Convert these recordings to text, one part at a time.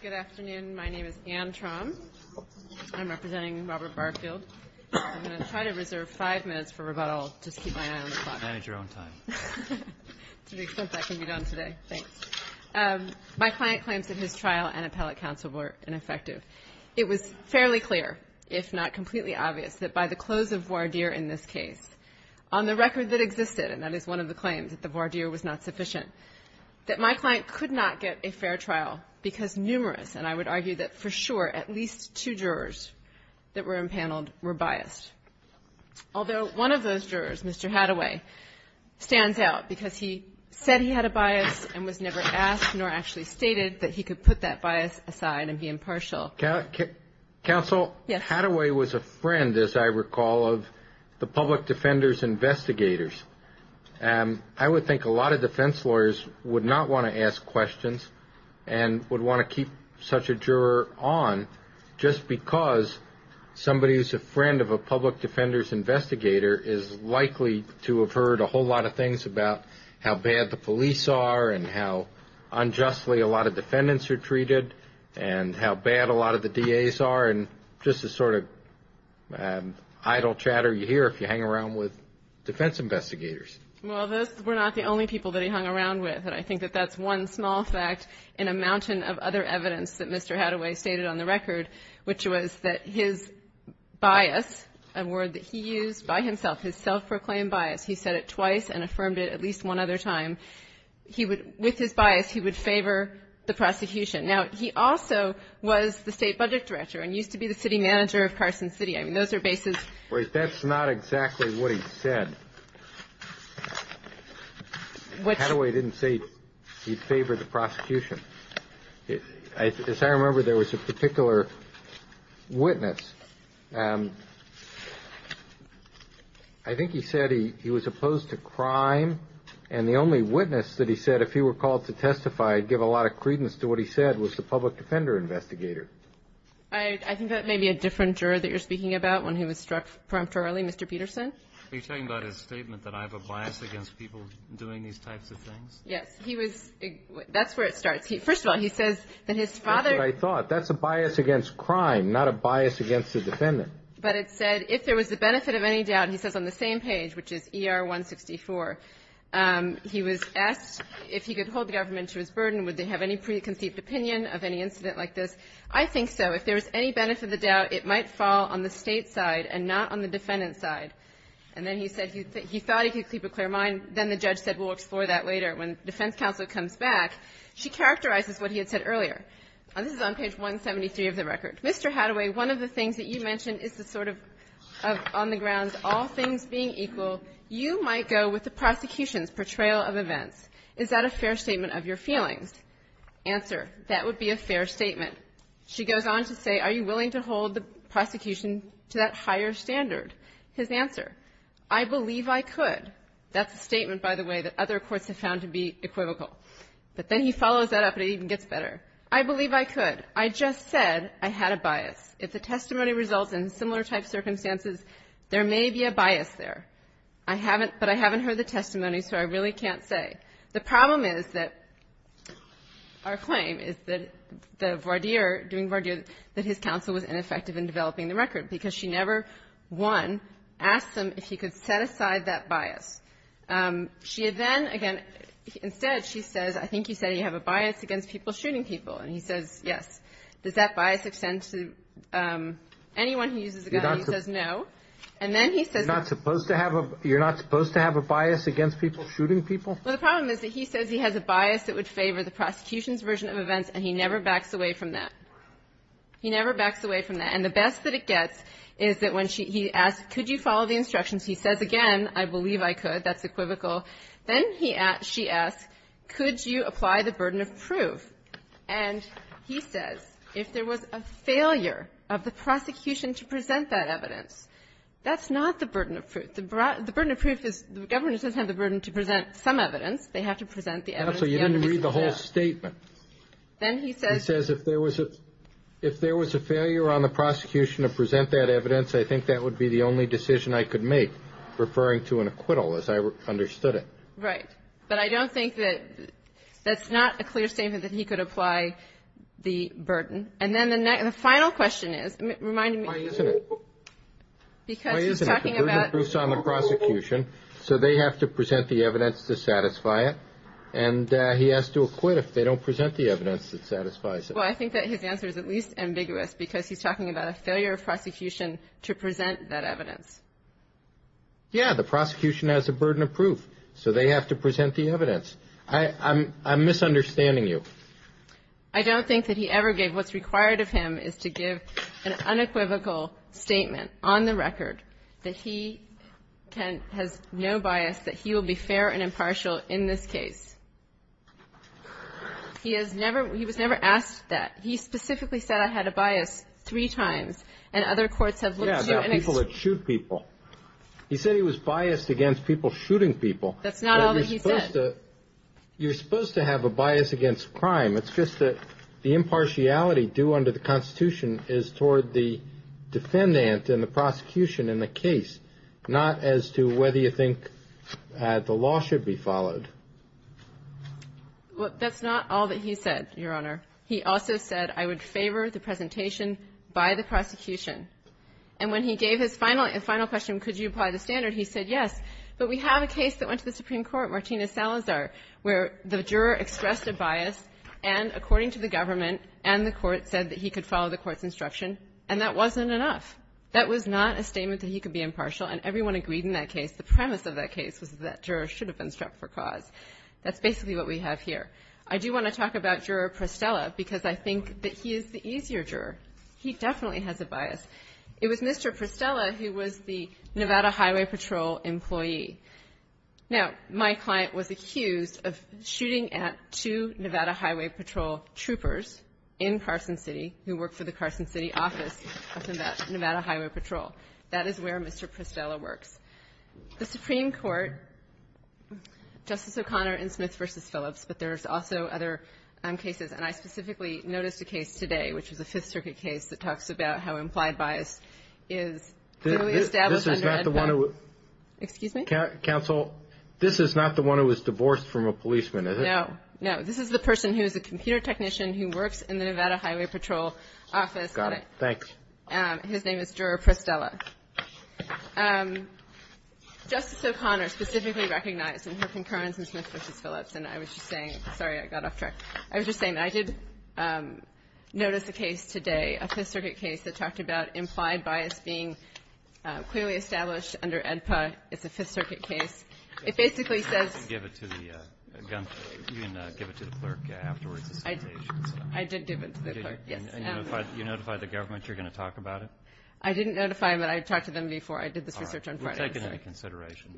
Good afternoon. My name is Anne Traum. I'm representing Robert Barfield. I'm going to try to reserve five minutes for rebuttal. Just keep my eye on the clock. My client claims that his trial and appellate counsel were ineffective. It was fairly clear, if not completely obvious, that by the close of voir dire in this case, on the record that existed, and that is one of the claims, that the voir dire was not sufficient, that my client could not get a fair trial because numerous, and I would argue that for sure, at least two jurors that were impaneled were biased. Although one of those jurors, Mr. Hadaway, stands out because he said he had a bias and was never asked nor actually stated that he could put that bias aside and be impartial. Counsel, Hadaway was a friend, as I recall, of the public defenders investigators. I would think a lot of defense lawyers would not want to ask questions and would want to keep such a juror on just because somebody who's a public defenders investigator is likely to have heard a whole lot of things about how bad the police are and how unjustly a lot of defendants are treated and how bad a lot of the DAs are and just the sort of idle chatter you hear if you hang around with defense investigators. Well, those were not the only people that he hung around with, and I think that that's one small fact in a mountain of other evidence that Mr. Hadaway stated on the record, which was that his bias, a word that he used by himself, his self-proclaimed bias, he said it twice and affirmed it at least one other time, he would, with his bias, he would favor the prosecution. Now, he also was the State Budget Director and used to be the City Manager of Carson City. I mean, those are bases. But that's not exactly what he said. Hadaway didn't say he favored the prosecution. As I remember, there was a particular witness. I think he said he was opposed to crime, and the only witness that he said if he were called to testify, give a lot of credence to what he said, was the public defender investigator. I think that may be a different juror that you're speaking about, one who was struck preemptorily, Mr. Peterson. Are you talking about his statement that I have a bias against people doing these types of things? Yes. That's where it starts. First of all, he says that his father That's what I thought. That's a bias against crime, not a bias against the defendant. But it said if there was the benefit of any doubt, he says on the same page, which is ER-164, he was asked if he could hold the government to his burden, would they have any preconceived opinion of any incident like this? I think so. If there was any benefit of the doubt, it might fall on the State side and not on the defendant's side. And then he said he thought he could keep a clear mind. And then the judge said we'll explore that later when defense counsel comes back. She characterizes what he had said earlier. This is on page 173 of the record. Mr. Hataway, one of the things that you mentioned is the sort of on the grounds all things being equal, you might go with the prosecution's portrayal of events. Is that a fair statement of your feelings? Answer. That would be a fair statement. She goes on to say, are you willing to hold the prosecution to that higher standard? His answer. I believe I could. That's a statement, by the way, that other courts have found to be equivocal. But then he follows that up, and it even gets better. I believe I could. I just said I had a bias. If the testimony results in similar type circumstances, there may be a bias there. I haven't, but I haven't heard the testimony, so I really can't say. The problem is that our claim is that the voir dire, doing voir dire, that his counsel was ineffective in developing the record because she never, one, asked him if he could set aside that bias. She then, again, instead she says, I think you said you have a bias against people shooting people. And he says, yes. Does that bias extend to anyone who uses a gun? He says no. And then he says. You're not supposed to have a bias against people shooting people? Well, the problem is that he says he has a bias that would favor the prosecution's version of events, and he never backs away from that. He never backs away from that. And the best that it gets is that when he asks could you follow the instructions, he says, again, I believe I could. That's equivocal. Then she asks, could you apply the burden of proof? And he says, if there was a failure of the prosecution to present that evidence, that's not the burden of proof. The burden of proof is the government doesn't have the burden to present some evidence. They have to present the evidence. So you didn't read the whole statement. Then he says. He says if there was a failure on the prosecution to present that evidence, I think that would be the only decision I could make, referring to an acquittal, as I understood it. Right. But I don't think that that's not a clear statement that he could apply the burden. And then the final question is, remind me. Why isn't it? Because he's talking about. Why isn't it? The burden of proof is on the prosecution. So they have to present the evidence to satisfy it. And he has to acquit if they don't present the evidence that satisfies it. Well, I think that his answer is at least ambiguous, because he's talking about a failure of prosecution to present that evidence. Yeah. The prosecution has a burden of proof. So they have to present the evidence. I'm misunderstanding you. I don't think that he ever gave. What's required of him is to give an unequivocal statement on the record that he has no bias, that he will be fair and impartial in this case. He has never. He was never asked that. He specifically said I had a bias three times, and other courts have looked to. Yeah, about people that shoot people. He said he was biased against people shooting people. That's not all that he said. You're supposed to have a bias against crime. It's just that the impartiality due under the Constitution is toward the defendant and the prosecution in the case, not as to whether you think the law should be followed. That's not all that he said, Your Honor. He also said I would favor the presentation by the prosecution. And when he gave his final question, could you apply the standard, he said yes. But we have a case that went to the Supreme Court, Martina Salazar, where the juror expressed a bias, and according to the government and the court said that he could follow the court's instruction, and that wasn't enough. That was not a statement that he could be impartial, and everyone agreed in that case. The premise of that case was that juror should have been struck for cause. That's basically what we have here. I do want to talk about Juror Prostella because I think that he is the easier juror. He definitely has a bias. It was Mr. Prostella who was the Nevada Highway Patrol employee. Now, my client was accused of shooting at two Nevada Highway Patrol troopers in Carson City who worked for the Carson City office of Nevada Highway Patrol. That is where Mr. Prostella works. The Supreme Court, Justice O'Connor in Smith v. Phillips, but there's also other cases, and I specifically noticed a case today, which was a Fifth Circuit case, that talks about how implied bias is clearly established under EDPA. Excuse me? Counsel, this is not the one who was divorced from a policeman, is it? No, no. This is the person who is a computer technician who works in the Nevada Highway Patrol office. Got it. Thanks. His name is Juror Prostella. Justice O'Connor specifically recognized in her concurrence in Smith v. Phillips and I was just saying, sorry, I got off track. I was just saying that I did notice a case today, a Fifth Circuit case that talked about implied bias being clearly established under EDPA. It's a Fifth Circuit case. It basically says you can give it to the clerk afterwards. I did give it to the clerk, yes. And you notified the government you're going to talk about it? I didn't notify them, but I talked to them before I did this research on Friday. All right. We'll take it into consideration.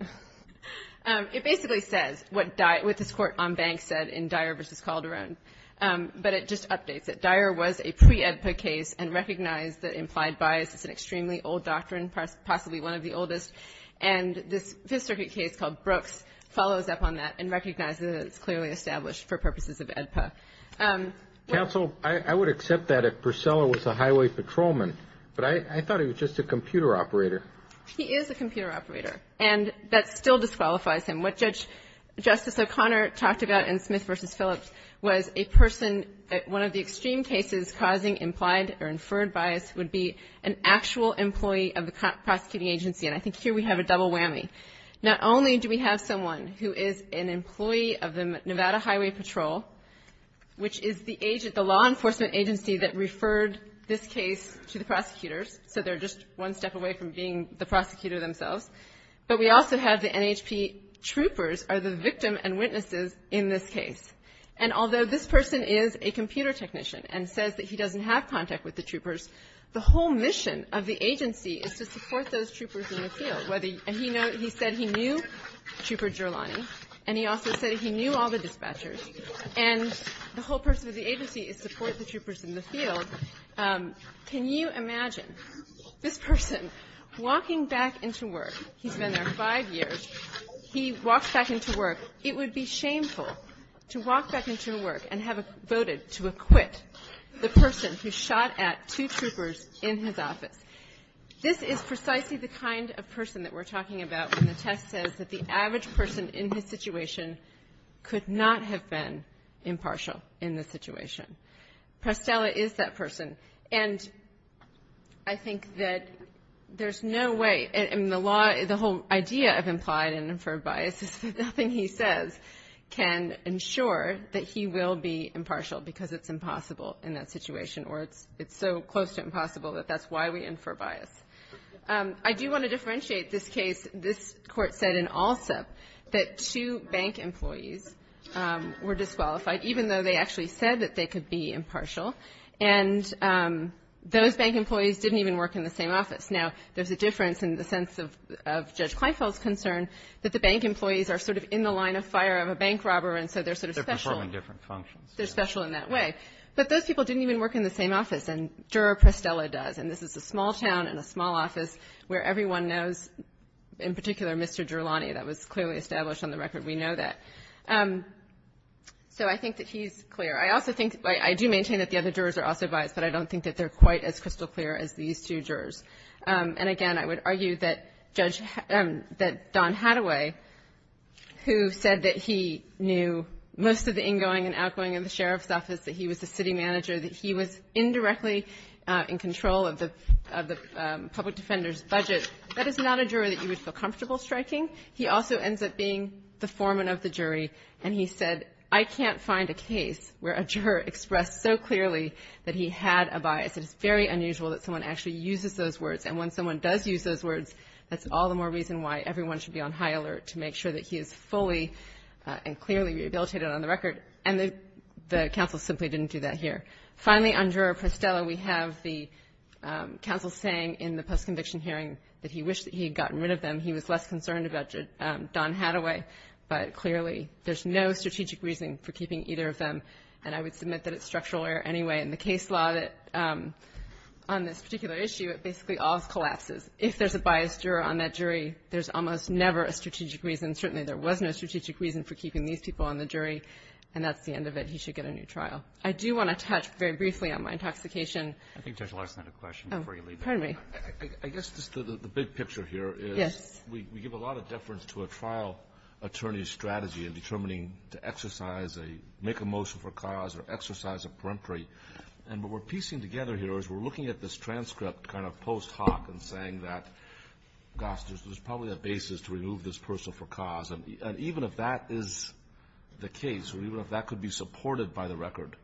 It basically says what this Court on Banks said in Dyer v. Calderon, but it just updates it. Dyer was a pre-EDPA case and recognized that implied bias is an extremely old doctrine, possibly one of the oldest, and this Fifth Circuit case called Brooks follows up on that and recognizes that it's clearly established for purposes of EDPA. Counsel, I would accept that if Purcell was a highway patrolman, but I thought he was just a computer operator. He is a computer operator, and that still disqualifies him. What Justice O'Connor talked about in Smith v. Phillips was a person at one of the extreme cases causing implied or inferred bias would be an actual employee of the prosecuting agency, and I think here we have a double whammy. And not only do we have someone who is an employee of the Nevada Highway Patrol, which is the law enforcement agency that referred this case to the prosecutors, so they're just one step away from being the prosecutor themselves, but we also have the NHP troopers are the victim and witnesses in this case. And although this person is a computer technician and says that he doesn't have contact with the troopers, the whole mission of the agency is to support those troopers in the field, and he said he knew Trooper Gerlani, and he also said he knew all the dispatchers, and the whole purpose of the agency is to support the troopers in the field, can you imagine this person walking back into work? He's been there five years. He walks back into work. It would be shameful to walk back into work and have voted to acquit the person who shot at two troopers in his office. This is precisely the kind of person that we're talking about when the test says that the average person in his situation could not have been impartial in this situation. Prestella is that person. And I think that there's no way the law, the whole idea of implied and inferred bias is that nothing he says can ensure that he will be impartial because it's impossible in that situation, or it's so close to impossible that that's why we infer bias. I do want to differentiate this case. This Court said in Alsup that two bank employees were disqualified, even though they actually said that they could be impartial. And those bank employees didn't even work in the same office. Now, there's a difference in the sense of Judge Kleiffel's concern that the bank employees are sort of in the line of fire of a bank robber, and so they're sort of special. They're performing different functions. They're special in that way. But those people didn't even work in the same office. And Juror Prestella does. And this is a small town in a small office where everyone knows, in particular, Mr. Durlani. That was clearly established on the record. We know that. So I think that he's clear. I also think that the other jurors are also biased, but I don't think that they're quite as crystal clear as these two jurors. And again, I would argue that Judge Don Hadaway, who said that he knew most of the sheriff's office, that he was the city manager, that he was indirectly in control of the public defender's budget, that is not a juror that you would feel comfortable striking. He also ends up being the foreman of the jury, and he said, I can't find a case where a juror expressed so clearly that he had a bias. It is very unusual that someone actually uses those words. And when someone does use those words, that's all the more reason why everyone should be on high alert to make sure that he is fully and clearly rehabilitated on the record. And the counsel simply didn't do that here. Finally, on Juror Prostella, we have the counsel saying in the post-conviction hearing that he wished that he had gotten rid of them. He was less concerned about Don Hadaway. But clearly, there's no strategic reasoning for keeping either of them, and I would submit that it's structural error anyway. And the case law on this particular issue, it basically all collapses. If there's a biased juror on that jury, there's almost never a strategic reason. Certainly, there was no strategic reason for keeping these people on the jury, and that's the end of it. He should get a new trial. I do want to touch very briefly on my intoxication. Roberts. I think Judge Larson had a question before you leave. Oh, pardon me. I guess just the big picture here is we give a lot of deference to a trial attorney's strategy in determining to exercise a make a motion for cause or exercise a peremptory. And what we're piecing together here is we're looking at this transcript kind of post hoc and saying that, gosh, there's probably a basis to remove this person for cause. And even if that is the case or even if that could be supported by the record,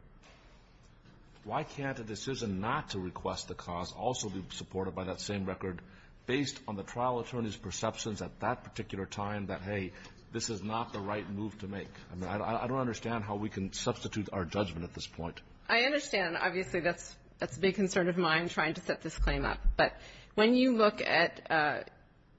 why can't a decision not to request the cause also be supported by that same record based on the trial attorney's perceptions at that particular time that, hey, this is not the right move to make? I mean, I don't understand how we can substitute our judgment at this point. I understand. Obviously, that's a big concern of mine, trying to set this claim up. But when you look at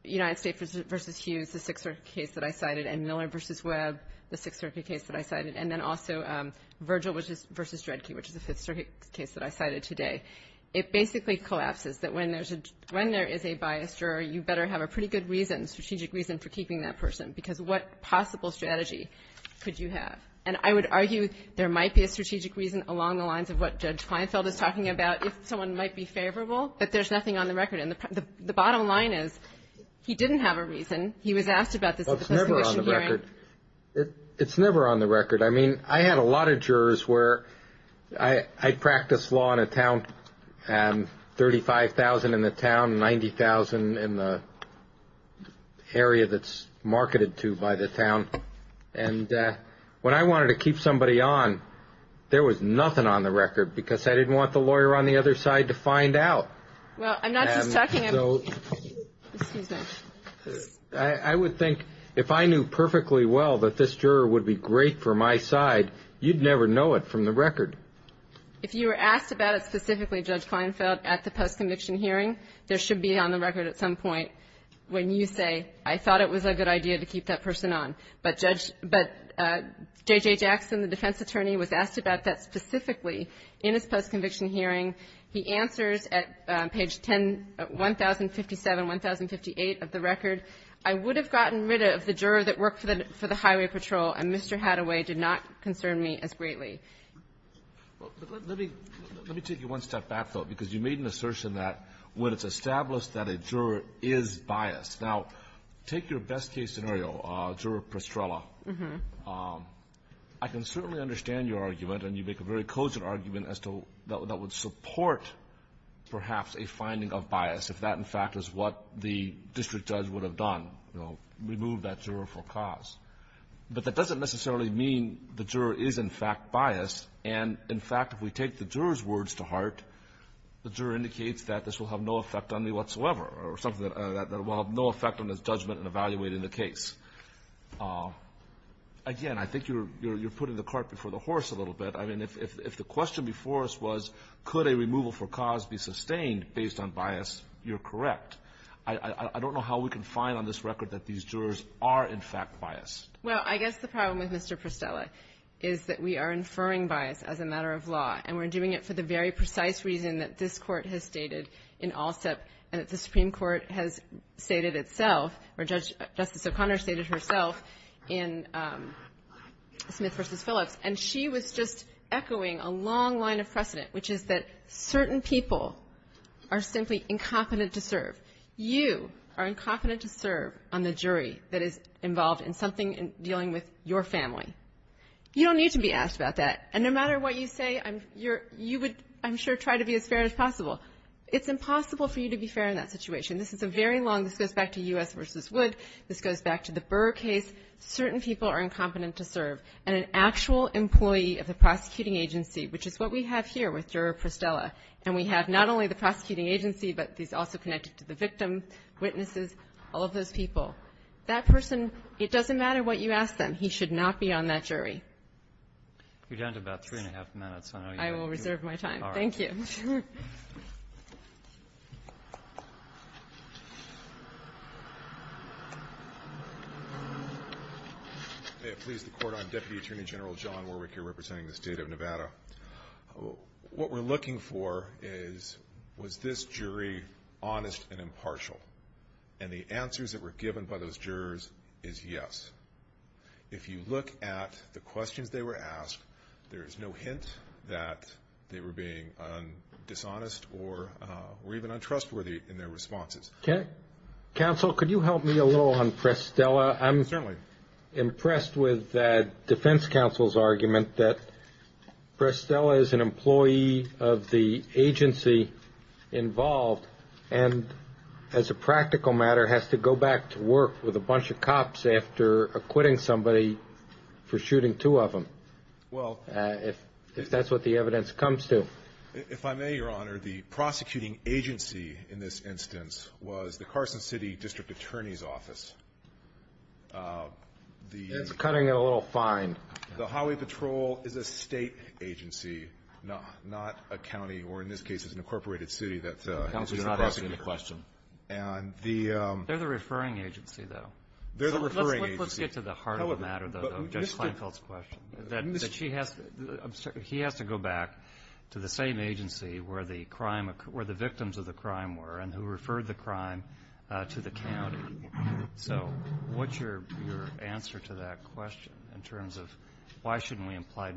United States v. Hughes, the Sixth Circuit case that I cited, and Miller v. Webb, the Sixth Circuit case that I cited, and then also Virgil v. Dredke, which is the Fifth Circuit case that I cited today, it basically collapses that when there's a — when there is a biased juror, you better have a pretty good reason, strategic reason for keeping that person, because what possible strategy could you have? And I would argue there might be a strategic reason along the lines of what Judge Kleinfeld is talking about, if someone might be favorable, but there's nothing on the record. And the bottom line is he didn't have a reason. He was asked about this at the subpoena hearing. Well, it's never on the record. It's never on the record. I mean, I had a lot of jurors where I practiced law in a town, 35,000 in the town, 90,000 in the area that's marketed to by the town. And when I wanted to keep somebody on, there was nothing on the record, because I didn't want the lawyer on the other side to find out. Well, I'm not just talking about — So — Excuse me. I would think if I knew perfectly well that this juror would be great for my side, you'd never know it from the record. If you were asked about it specifically, Judge Kleinfeld, at the post-conviction hearing, there should be on the record at some point when you say, I thought it was a good idea to keep that person on. But Judge — but J.J. Jackson, the defense attorney, was asked about that specifically in his post-conviction hearing. He answers at page 10 — 1057, 1058 of the record, I would have gotten rid of the juror that worked for the Highway Patrol, and Mr. Hadaway did not concern me as greatly. Well, let me — let me take you one step back, though, because you made an assertion that when it's established that a juror is biased. Now, take your best-case scenario, Juror Prestrella. I can certainly understand your argument, and you make a very cogent argument as to that would support, perhaps, a finding of bias, if that, in fact, is what the district judge would have done, you know, remove that juror for cause. But that doesn't necessarily mean the juror is, in fact, biased. And, in fact, if we take the juror's words to heart, the juror indicates that this will have no effect on me whatsoever or something that will have no effect on his judgment in evaluating the case. Again, I think you're putting the cart before the horse a little bit. I mean, if the question before us was, could a removal for cause be sustained based on bias, you're correct. I don't know how we can find on this record that these jurors are, in fact, biased. Well, I guess the problem with Mr. Prestrella is that we are inferring bias as a matter of law, and we're doing it for the very precise reason that this Court has stated in ALSEP and that the Supreme Court has stated itself, or Justice O'Connor stated herself, in Smith v. Phillips. And she was just echoing a long line of precedent, which is that certain people are simply incompetent to serve. You are incompetent to serve on the jury that is involved in something dealing with your family. You don't need to be asked about that. And no matter what you say, you would, I'm sure, try to be as fair as possible. It's impossible for you to be fair in that situation. This is a very long – this goes back to U.S. v. Wood. This goes back to the Burr case. Certain people are incompetent to serve. And an actual employee of the prosecuting agency, which is what we have here with the prosecuting agency, but he's also connected to the victim, witnesses, all of those people. That person, it doesn't matter what you ask them. He should not be on that jury. You're down to about three and a half minutes. I will reserve my time. All right. Thank you. May it please the Court. I'm Deputy Attorney General John Warwick here representing the State of Nevada. What we're looking for is, was this jury honest and impartial? And the answers that were given by those jurors is yes. If you look at the questions they were asked, there is no hint that they were being dishonest or even untrustworthy in their responses. Okay. Counsel, could you help me a little on Prestella? Certainly. I'm impressed with Defense Counsel's argument that Prestella is an employee of the agency involved and, as a practical matter, has to go back to work with a bunch of cops after acquitting somebody for shooting two of them, if that's what the evidence comes to. If I may, Your Honor, the prosecuting agency in this instance was the Carson City District Attorney's Office. It's cutting it a little fine. The Highway Patrol is a State agency, not a county, or in this case, it's an incorporated city that has been across the border. Counsel, he's not asking the question. They're the referring agency, though. They're the referring agency. Let's get to the heart of the matter, though, though, Judge Kleinfeld's question, that she has to go back to the same agency where the crime occurred, where the victims of the crime were, and who referred the crime to the county. So what's your answer to that question in terms of why shouldn't we apply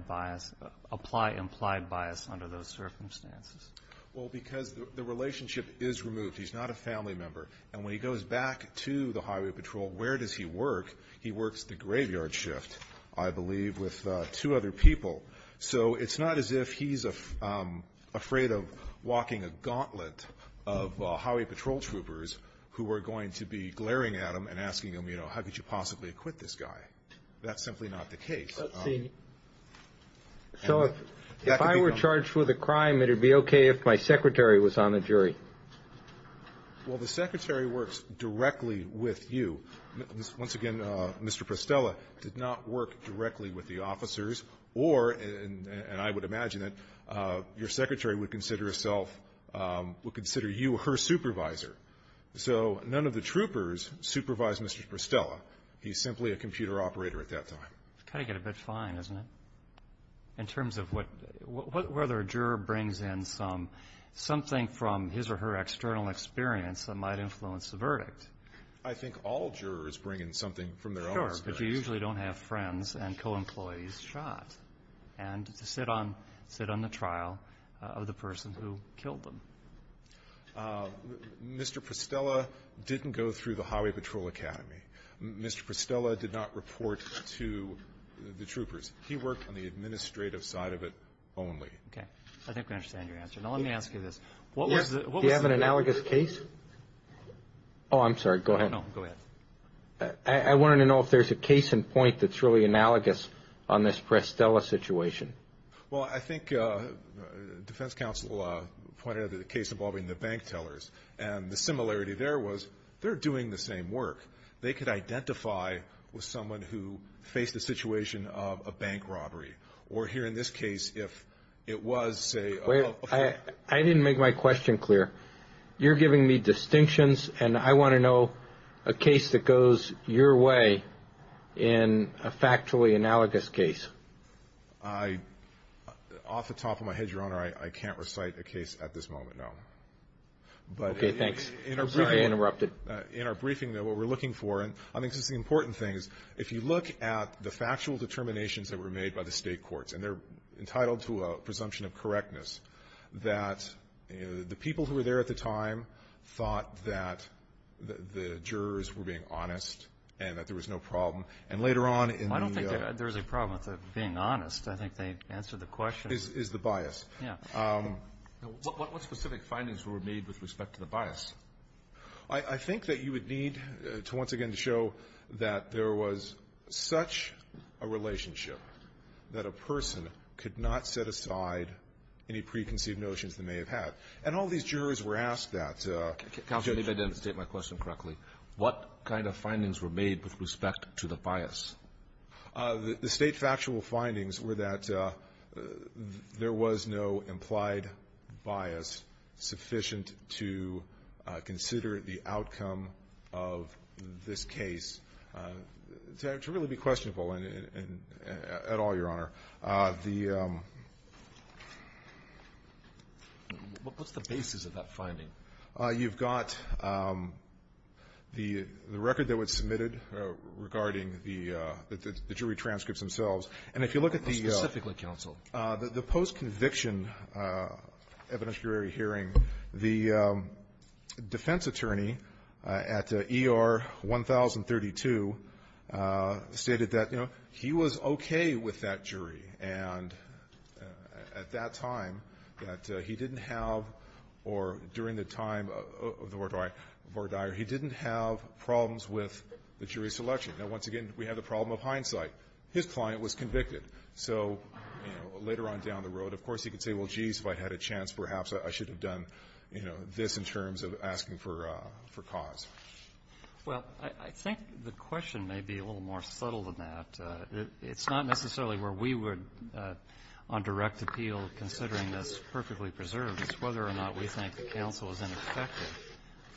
implied bias under those circumstances? Well, because the relationship is removed. He's not a family member. And when he goes back to the Highway Patrol, where does he work? He works the graveyard shift, I believe, with two other people. So it's not as if he's afraid of walking a gauntlet of Highway Patrol troopers who are going to be glaring at him and asking him, you know, how could you possibly acquit this guy? That's simply not the case. So if I were charged with a crime, it would be okay if my secretary was on the jury? Well, the secretary works directly with you. Once again, Mr. Prostella did not work directly with the officers or, and I would imagine that, your secretary would consider herself, would consider you her supervisor. So none of the troopers supervised Mr. Prostella. He's simply a computer operator at that time. It's got to get a bit fine, isn't it, in terms of what, whether a juror brings in some, something from his or her external experience that might influence the verdict? I think all jurors bring in something from their own experience. Sure. But you usually don't have friends and co-employees shot and to sit on, sit on the trial of the person who killed them. Mr. Prostella didn't go through the Highway Patrol Academy. Mr. Prostella did not report to the troopers. He worked on the administrative side of it only. Okay. I think I understand your answer. Now, let me ask you this. What was the -- Do you have an analogous case? Oh, I'm sorry. Go ahead. No, go ahead. I wanted to know if there's a case in point that's really analogous on this Prostella situation. Well, I think defense counsel pointed out the case involving the bank tellers. And the similarity there was they're doing the same work. They could identify with someone who faced a situation of a bank robbery. Or here in this case, if it was, say ---- Wait. I didn't make my question clear. You're giving me distinctions. And I want to know a case that goes your way in a factually analogous case. Off the top of my head, Your Honor, I can't recite a case at this moment, no. Okay. Thanks. Sorry to interrupt it. In our briefing, though, what we're looking for, and I think this is the important thing, is if you look at the factual determinations that were made by the state courts, and they're entitled to a presumption of correctness, that the people who were there at the time thought that the jurors were being honest and that there was no problem. And later on in the ---- I don't think there's a problem with being honest. I think they answered the question. Is the bias. Yeah. What specific findings were made with respect to the bias? I think that you would need to once again show that there was such a relationship that a person could not set aside any preconceived notions they may have had. And all these jurors were asked that. Counsel, if I didn't state my question correctly, what kind of findings were made with respect to the bias? The state factual findings were that there was no implied bias sufficient to consider the outcome of this case to really be questionable at all, Your Honor. The ---- What's the basis of that finding? You've got the record that was submitted regarding the jury transcripts themselves. And if you look at the ---- Specifically, counsel? The post-conviction evidentiary hearing, the defense attorney at ER 1032 stated that, you know, he was okay with that jury, and at that time that he didn't have or during the time of the Vordire, he didn't have problems with the jury selection. Now, once again, we have the problem of hindsight. His client was convicted. So, you know, later on down the road, of course, he could say, well, geez, if I had a chance, perhaps I should have done, you know, this in terms of asking for cause. Well, I think the question may be a little more subtle than that. It's not necessarily where we would, on direct appeal, considering this perfectly preserved. It's whether or not we think the counsel is ineffective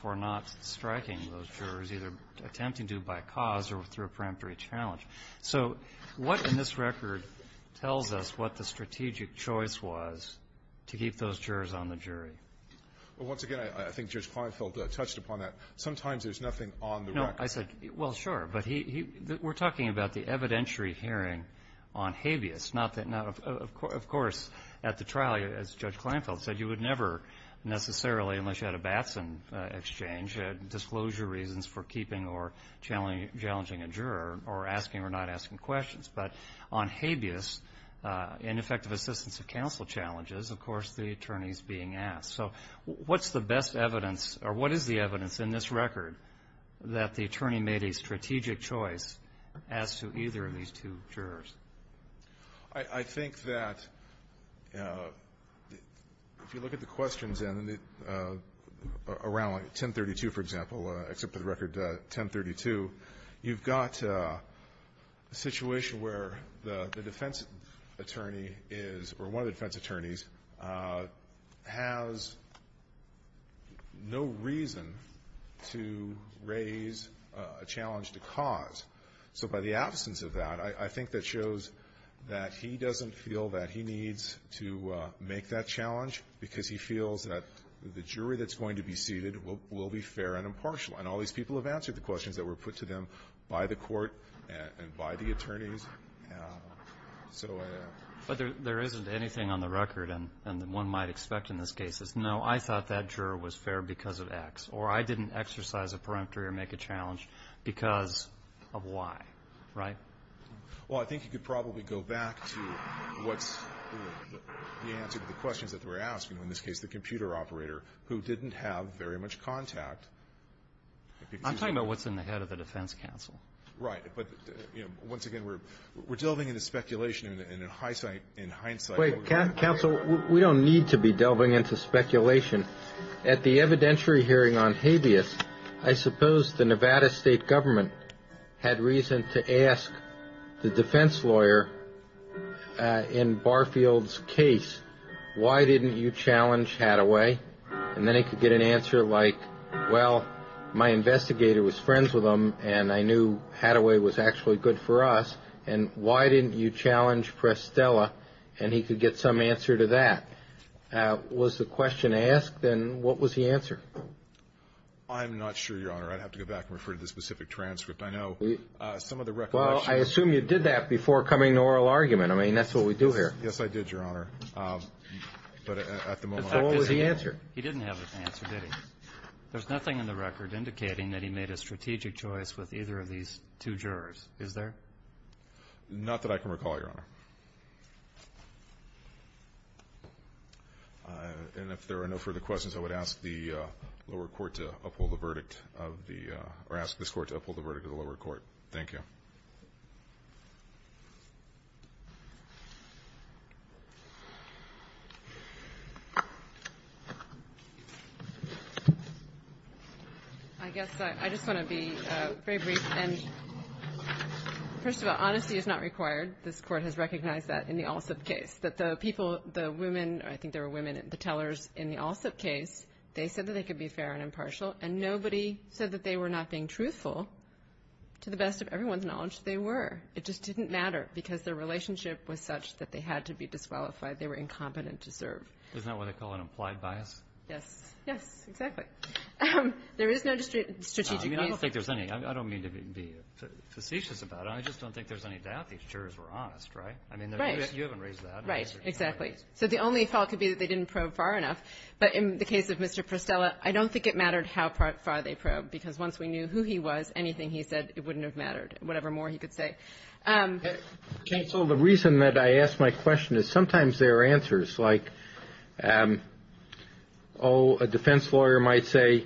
for not striking those jurors, either attempting to by cause or through a preemptory challenge. So what in this record tells us what the strategic choice was to keep those jurors on the jury? Well, once again, I think Judge Kleinfeld touched upon that. Sometimes there's nothing on the record. No. I said, well, sure. But he we're talking about the evidentiary hearing on habeas. Of course, at the trial, as Judge Kleinfeld said, you would never necessarily, unless you had a Batson exchange, disclosure reasons for keeping or challenging a juror or asking or not asking questions. But on habeas, ineffective assistance of counsel challenges, of course, the attorney is being asked. So what's the best evidence or what is the evidence in this record that the attorney made a strategic choice as to either of these two jurors? I think that if you look at the questions around 1032, for example, except for the record 1032, you've got a situation where the defense attorney is or one of the defense attorneys has no reason to raise a challenge to cause. So by the absence of that, I think that shows that he doesn't feel that he needs to make that challenge because he feels that the jury that's going to be seated will be fair and impartial. And all these people have answered the questions that were put to them by the Court and by the attorneys. But there isn't anything on the record, and one might expect in this case, is no, I thought that juror was fair because of X, or I didn't exercise a peremptory or make a challenge because of Y, right? Well, I think you could probably go back to what's the answer to the questions that were asked, in this case the computer operator, who didn't have very much contact. I'm talking about what's in the head of the defense counsel. Right. But once again, we're delving into speculation in hindsight. Wait, counsel, we don't need to be delving into speculation. At the evidentiary hearing on habeas, I suppose the Nevada state government had reason to ask the defense lawyer in Barfield's case, why didn't you challenge Hataway? And then he could get an answer like, well, my investigator was friends with him and I knew Hataway was actually good for us. And why didn't you challenge Prestella? And he could get some answer to that. Was the question asked? Then what was the answer? I'm not sure, Your Honor. I'd have to go back and refer to the specific transcript. I know some of the recollection. Well, I assume you did that before coming to oral argument. I mean, that's what we do here. Yes, I did, Your Honor. But at the moment, I don't know. So what was the answer? He didn't have an answer, did he? There's nothing in the record indicating that he made a strategic choice with either of these two jurors, is there? Not that I can recall, Your Honor. And if there are no further questions, I would ask the lower court to uphold the verdict of the – Thank you. I guess I just want to be very brief. And first of all, honesty is not required. This Court has recognized that in the Allsup case, that the people, the women, I think there were women tellers in the Allsup case, they said that they could be fair and impartial, and nobody said that they were not being truthful. To the best of everyone's knowledge, they were. It just didn't matter because their relationship was such that they had to be disqualified. They were incompetent to serve. Isn't that what they call an implied bias? Yes. Yes, exactly. There is no strategic reason. I don't think there's any. I don't mean to be facetious about it. I just don't think there's any doubt these jurors were honest, right? Right. I mean, you haven't raised that. Right, exactly. So the only fault could be that they didn't probe far enough. But in the case of Mr. Prostella, I don't think it mattered how far they probed because once we knew who he was, anything he said, it wouldn't have mattered, whatever more he could say. Counsel, the reason that I ask my question is sometimes there are answers. Like, oh, a defense lawyer might say,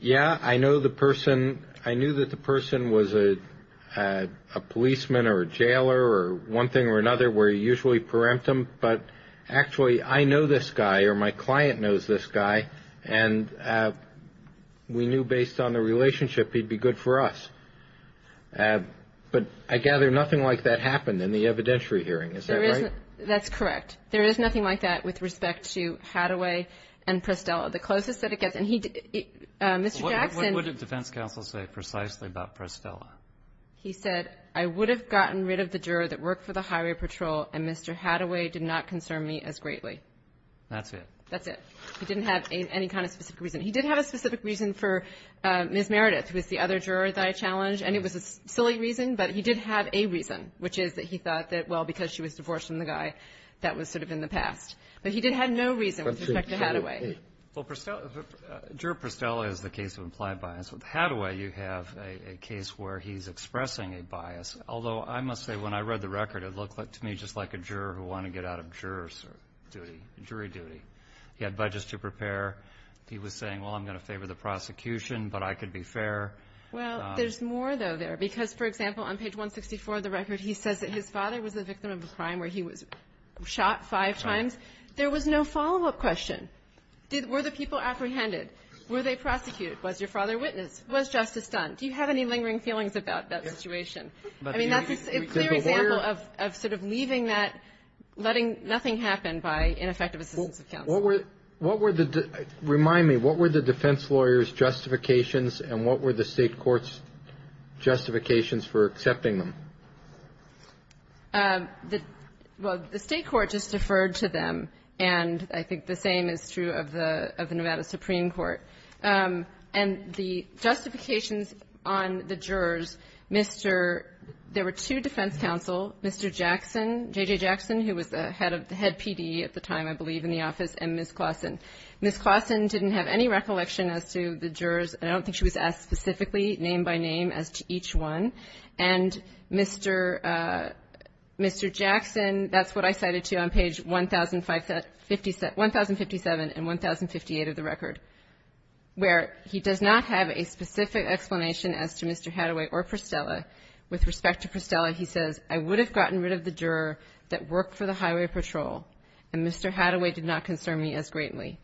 yeah, I know the person. I knew that the person was a policeman or a jailer or one thing or another, where you usually preempt them. But actually, I know this guy or my client knows this guy, and we knew based on the relationship he'd be good for us. But I gather nothing like that happened in the evidentiary hearing. Is that right? That's correct. There is nothing like that with respect to Hadaway and Prostella. The closest that it gets, and he did Mr. Jackson. What would a defense counsel say precisely about Prostella? He said, I would have gotten rid of the juror that worked for the highway patrol and Mr. Hadaway did not concern me as greatly. That's it? That's it. He didn't have any kind of specific reason. He did have a specific reason for Ms. Meredith, who is the other juror that I challenged, and it was a silly reason, but he did have a reason, which is that he thought that, well, because she was divorced from the guy, that was sort of in the past. But he did have no reason with respect to Hadaway. Well, Prostella, juror Prostella is the case of implied bias. With Hadaway, you have a case where he's expressing a bias. Although, I must say, when I read the record, it looked to me just like a juror who wanted to get out of jurors' duty, jury duty. He had budgets to prepare. He was saying, well, I'm going to favor the prosecution, but I could be fair. Well, there's more, though, there, because, for example, on page 164 of the record, he says that his father was the victim of a crime where he was shot five times. There was no follow-up question. Were the people apprehended? Were they prosecuted? Was your father a witness? Was justice done? Do you have any lingering feelings about that situation? I mean, that's a clear example of sort of leaving that, letting nothing happen by ineffective assistance of counsel. Well, what were the — remind me, what were the defense lawyer's justifications and what were the State court's justifications for accepting them? Well, the State court just deferred to them, and I think the same is true of the Nevada Supreme Court. And the justifications on the jurors, Mr. — there were two defense counsel, Mr. Jackson, J.J. Jackson, who was the head of — the head PD at the time, I believe, in the office, and Ms. Claussen. Ms. Claussen didn't have any recollection as to the jurors, and I don't think she was asked specifically, name by name, as to each one. And Mr. — Mr. Jackson, that's what I cited to you on page 1057 — 1057 and 1058 of the record, where he does not have a specific explanation as to Mr. Hadaway or Prostella. With respect to Prostella, he says, I would have gotten rid of the juror that worked for the highway patrol, and Mr. Hadaway did not concern me as greatly.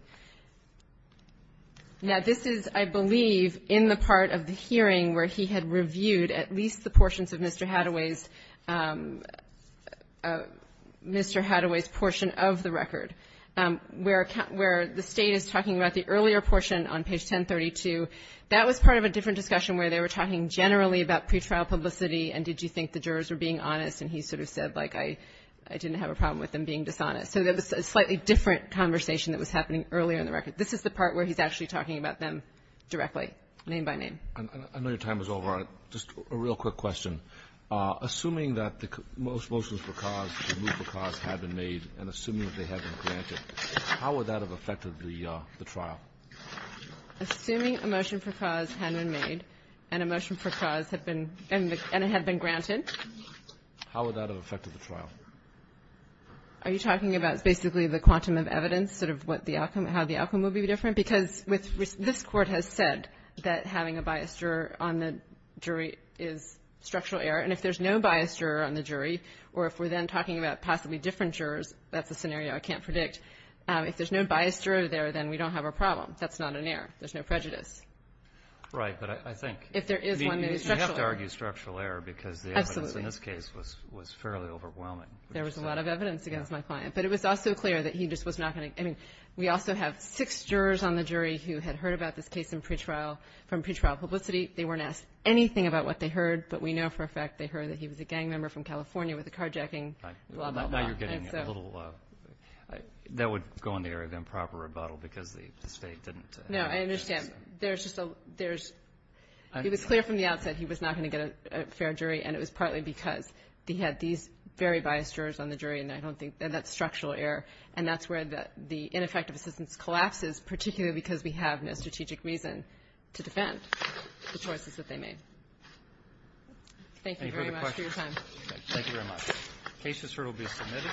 Now, this is, I believe, in the part of the hearing where he had reviewed at least the portions of Mr. Hadaway's — Mr. Hadaway's portion of the record, where the State is talking about the earlier portion on page 1032. That was part of a different discussion where they were talking generally about pretrial publicity, and did you think the jurors were being honest, and he sort of said, like, I — I didn't have a problem with them being dishonest. So that was a slightly different conversation that was happening earlier in the record. This is the part where he's actually talking about them directly, name by name. I know your time is over. Just a real quick question. Assuming that the motions for cause, the move for cause, had been made, and assuming that they had been granted, how would that have affected the trial? Assuming a motion for cause had been made and a motion for cause had been — and it had been granted? How would that have affected the trial? Are you talking about basically the quantum of evidence, sort of what the outcome — how the outcome would be different? Because with — this Court has said that having a biased juror on the jury is structural error, and if there's no biased juror on the jury, or if we're then talking about possibly different jurors, that's a scenario I can't predict. If there's no biased juror there, then we don't have a problem. That's not an error. There's no prejudice. Right. But I think — If there is one, then it's structural error. You have to argue structural error because the evidence in this case was fairly overwhelming. There was a lot of evidence against my client. But it was also clear that he just was not going to — I mean, we also have six jurors on the jury who had heard about this case in pretrial, from pretrial publicity. They weren't asked anything about what they heard, but we know for a fact they heard that he was a gang member from California with a carjacking, blah, blah, blah. Now you're getting a little — that would go in the area of improper rebuttal because the State didn't — No, I understand. There's just a — there's — it was clear from the outset he was not going to get a fair jury, and it was partly because he had these very biased jurors on the jury, and I don't think — and that's structural error. And that's where the ineffective assistance collapses, particularly because we have no strategic reason to defend the choices that they made. Thank you very much for your time. Any further questions? Thank you very much. The case is here to be submitted.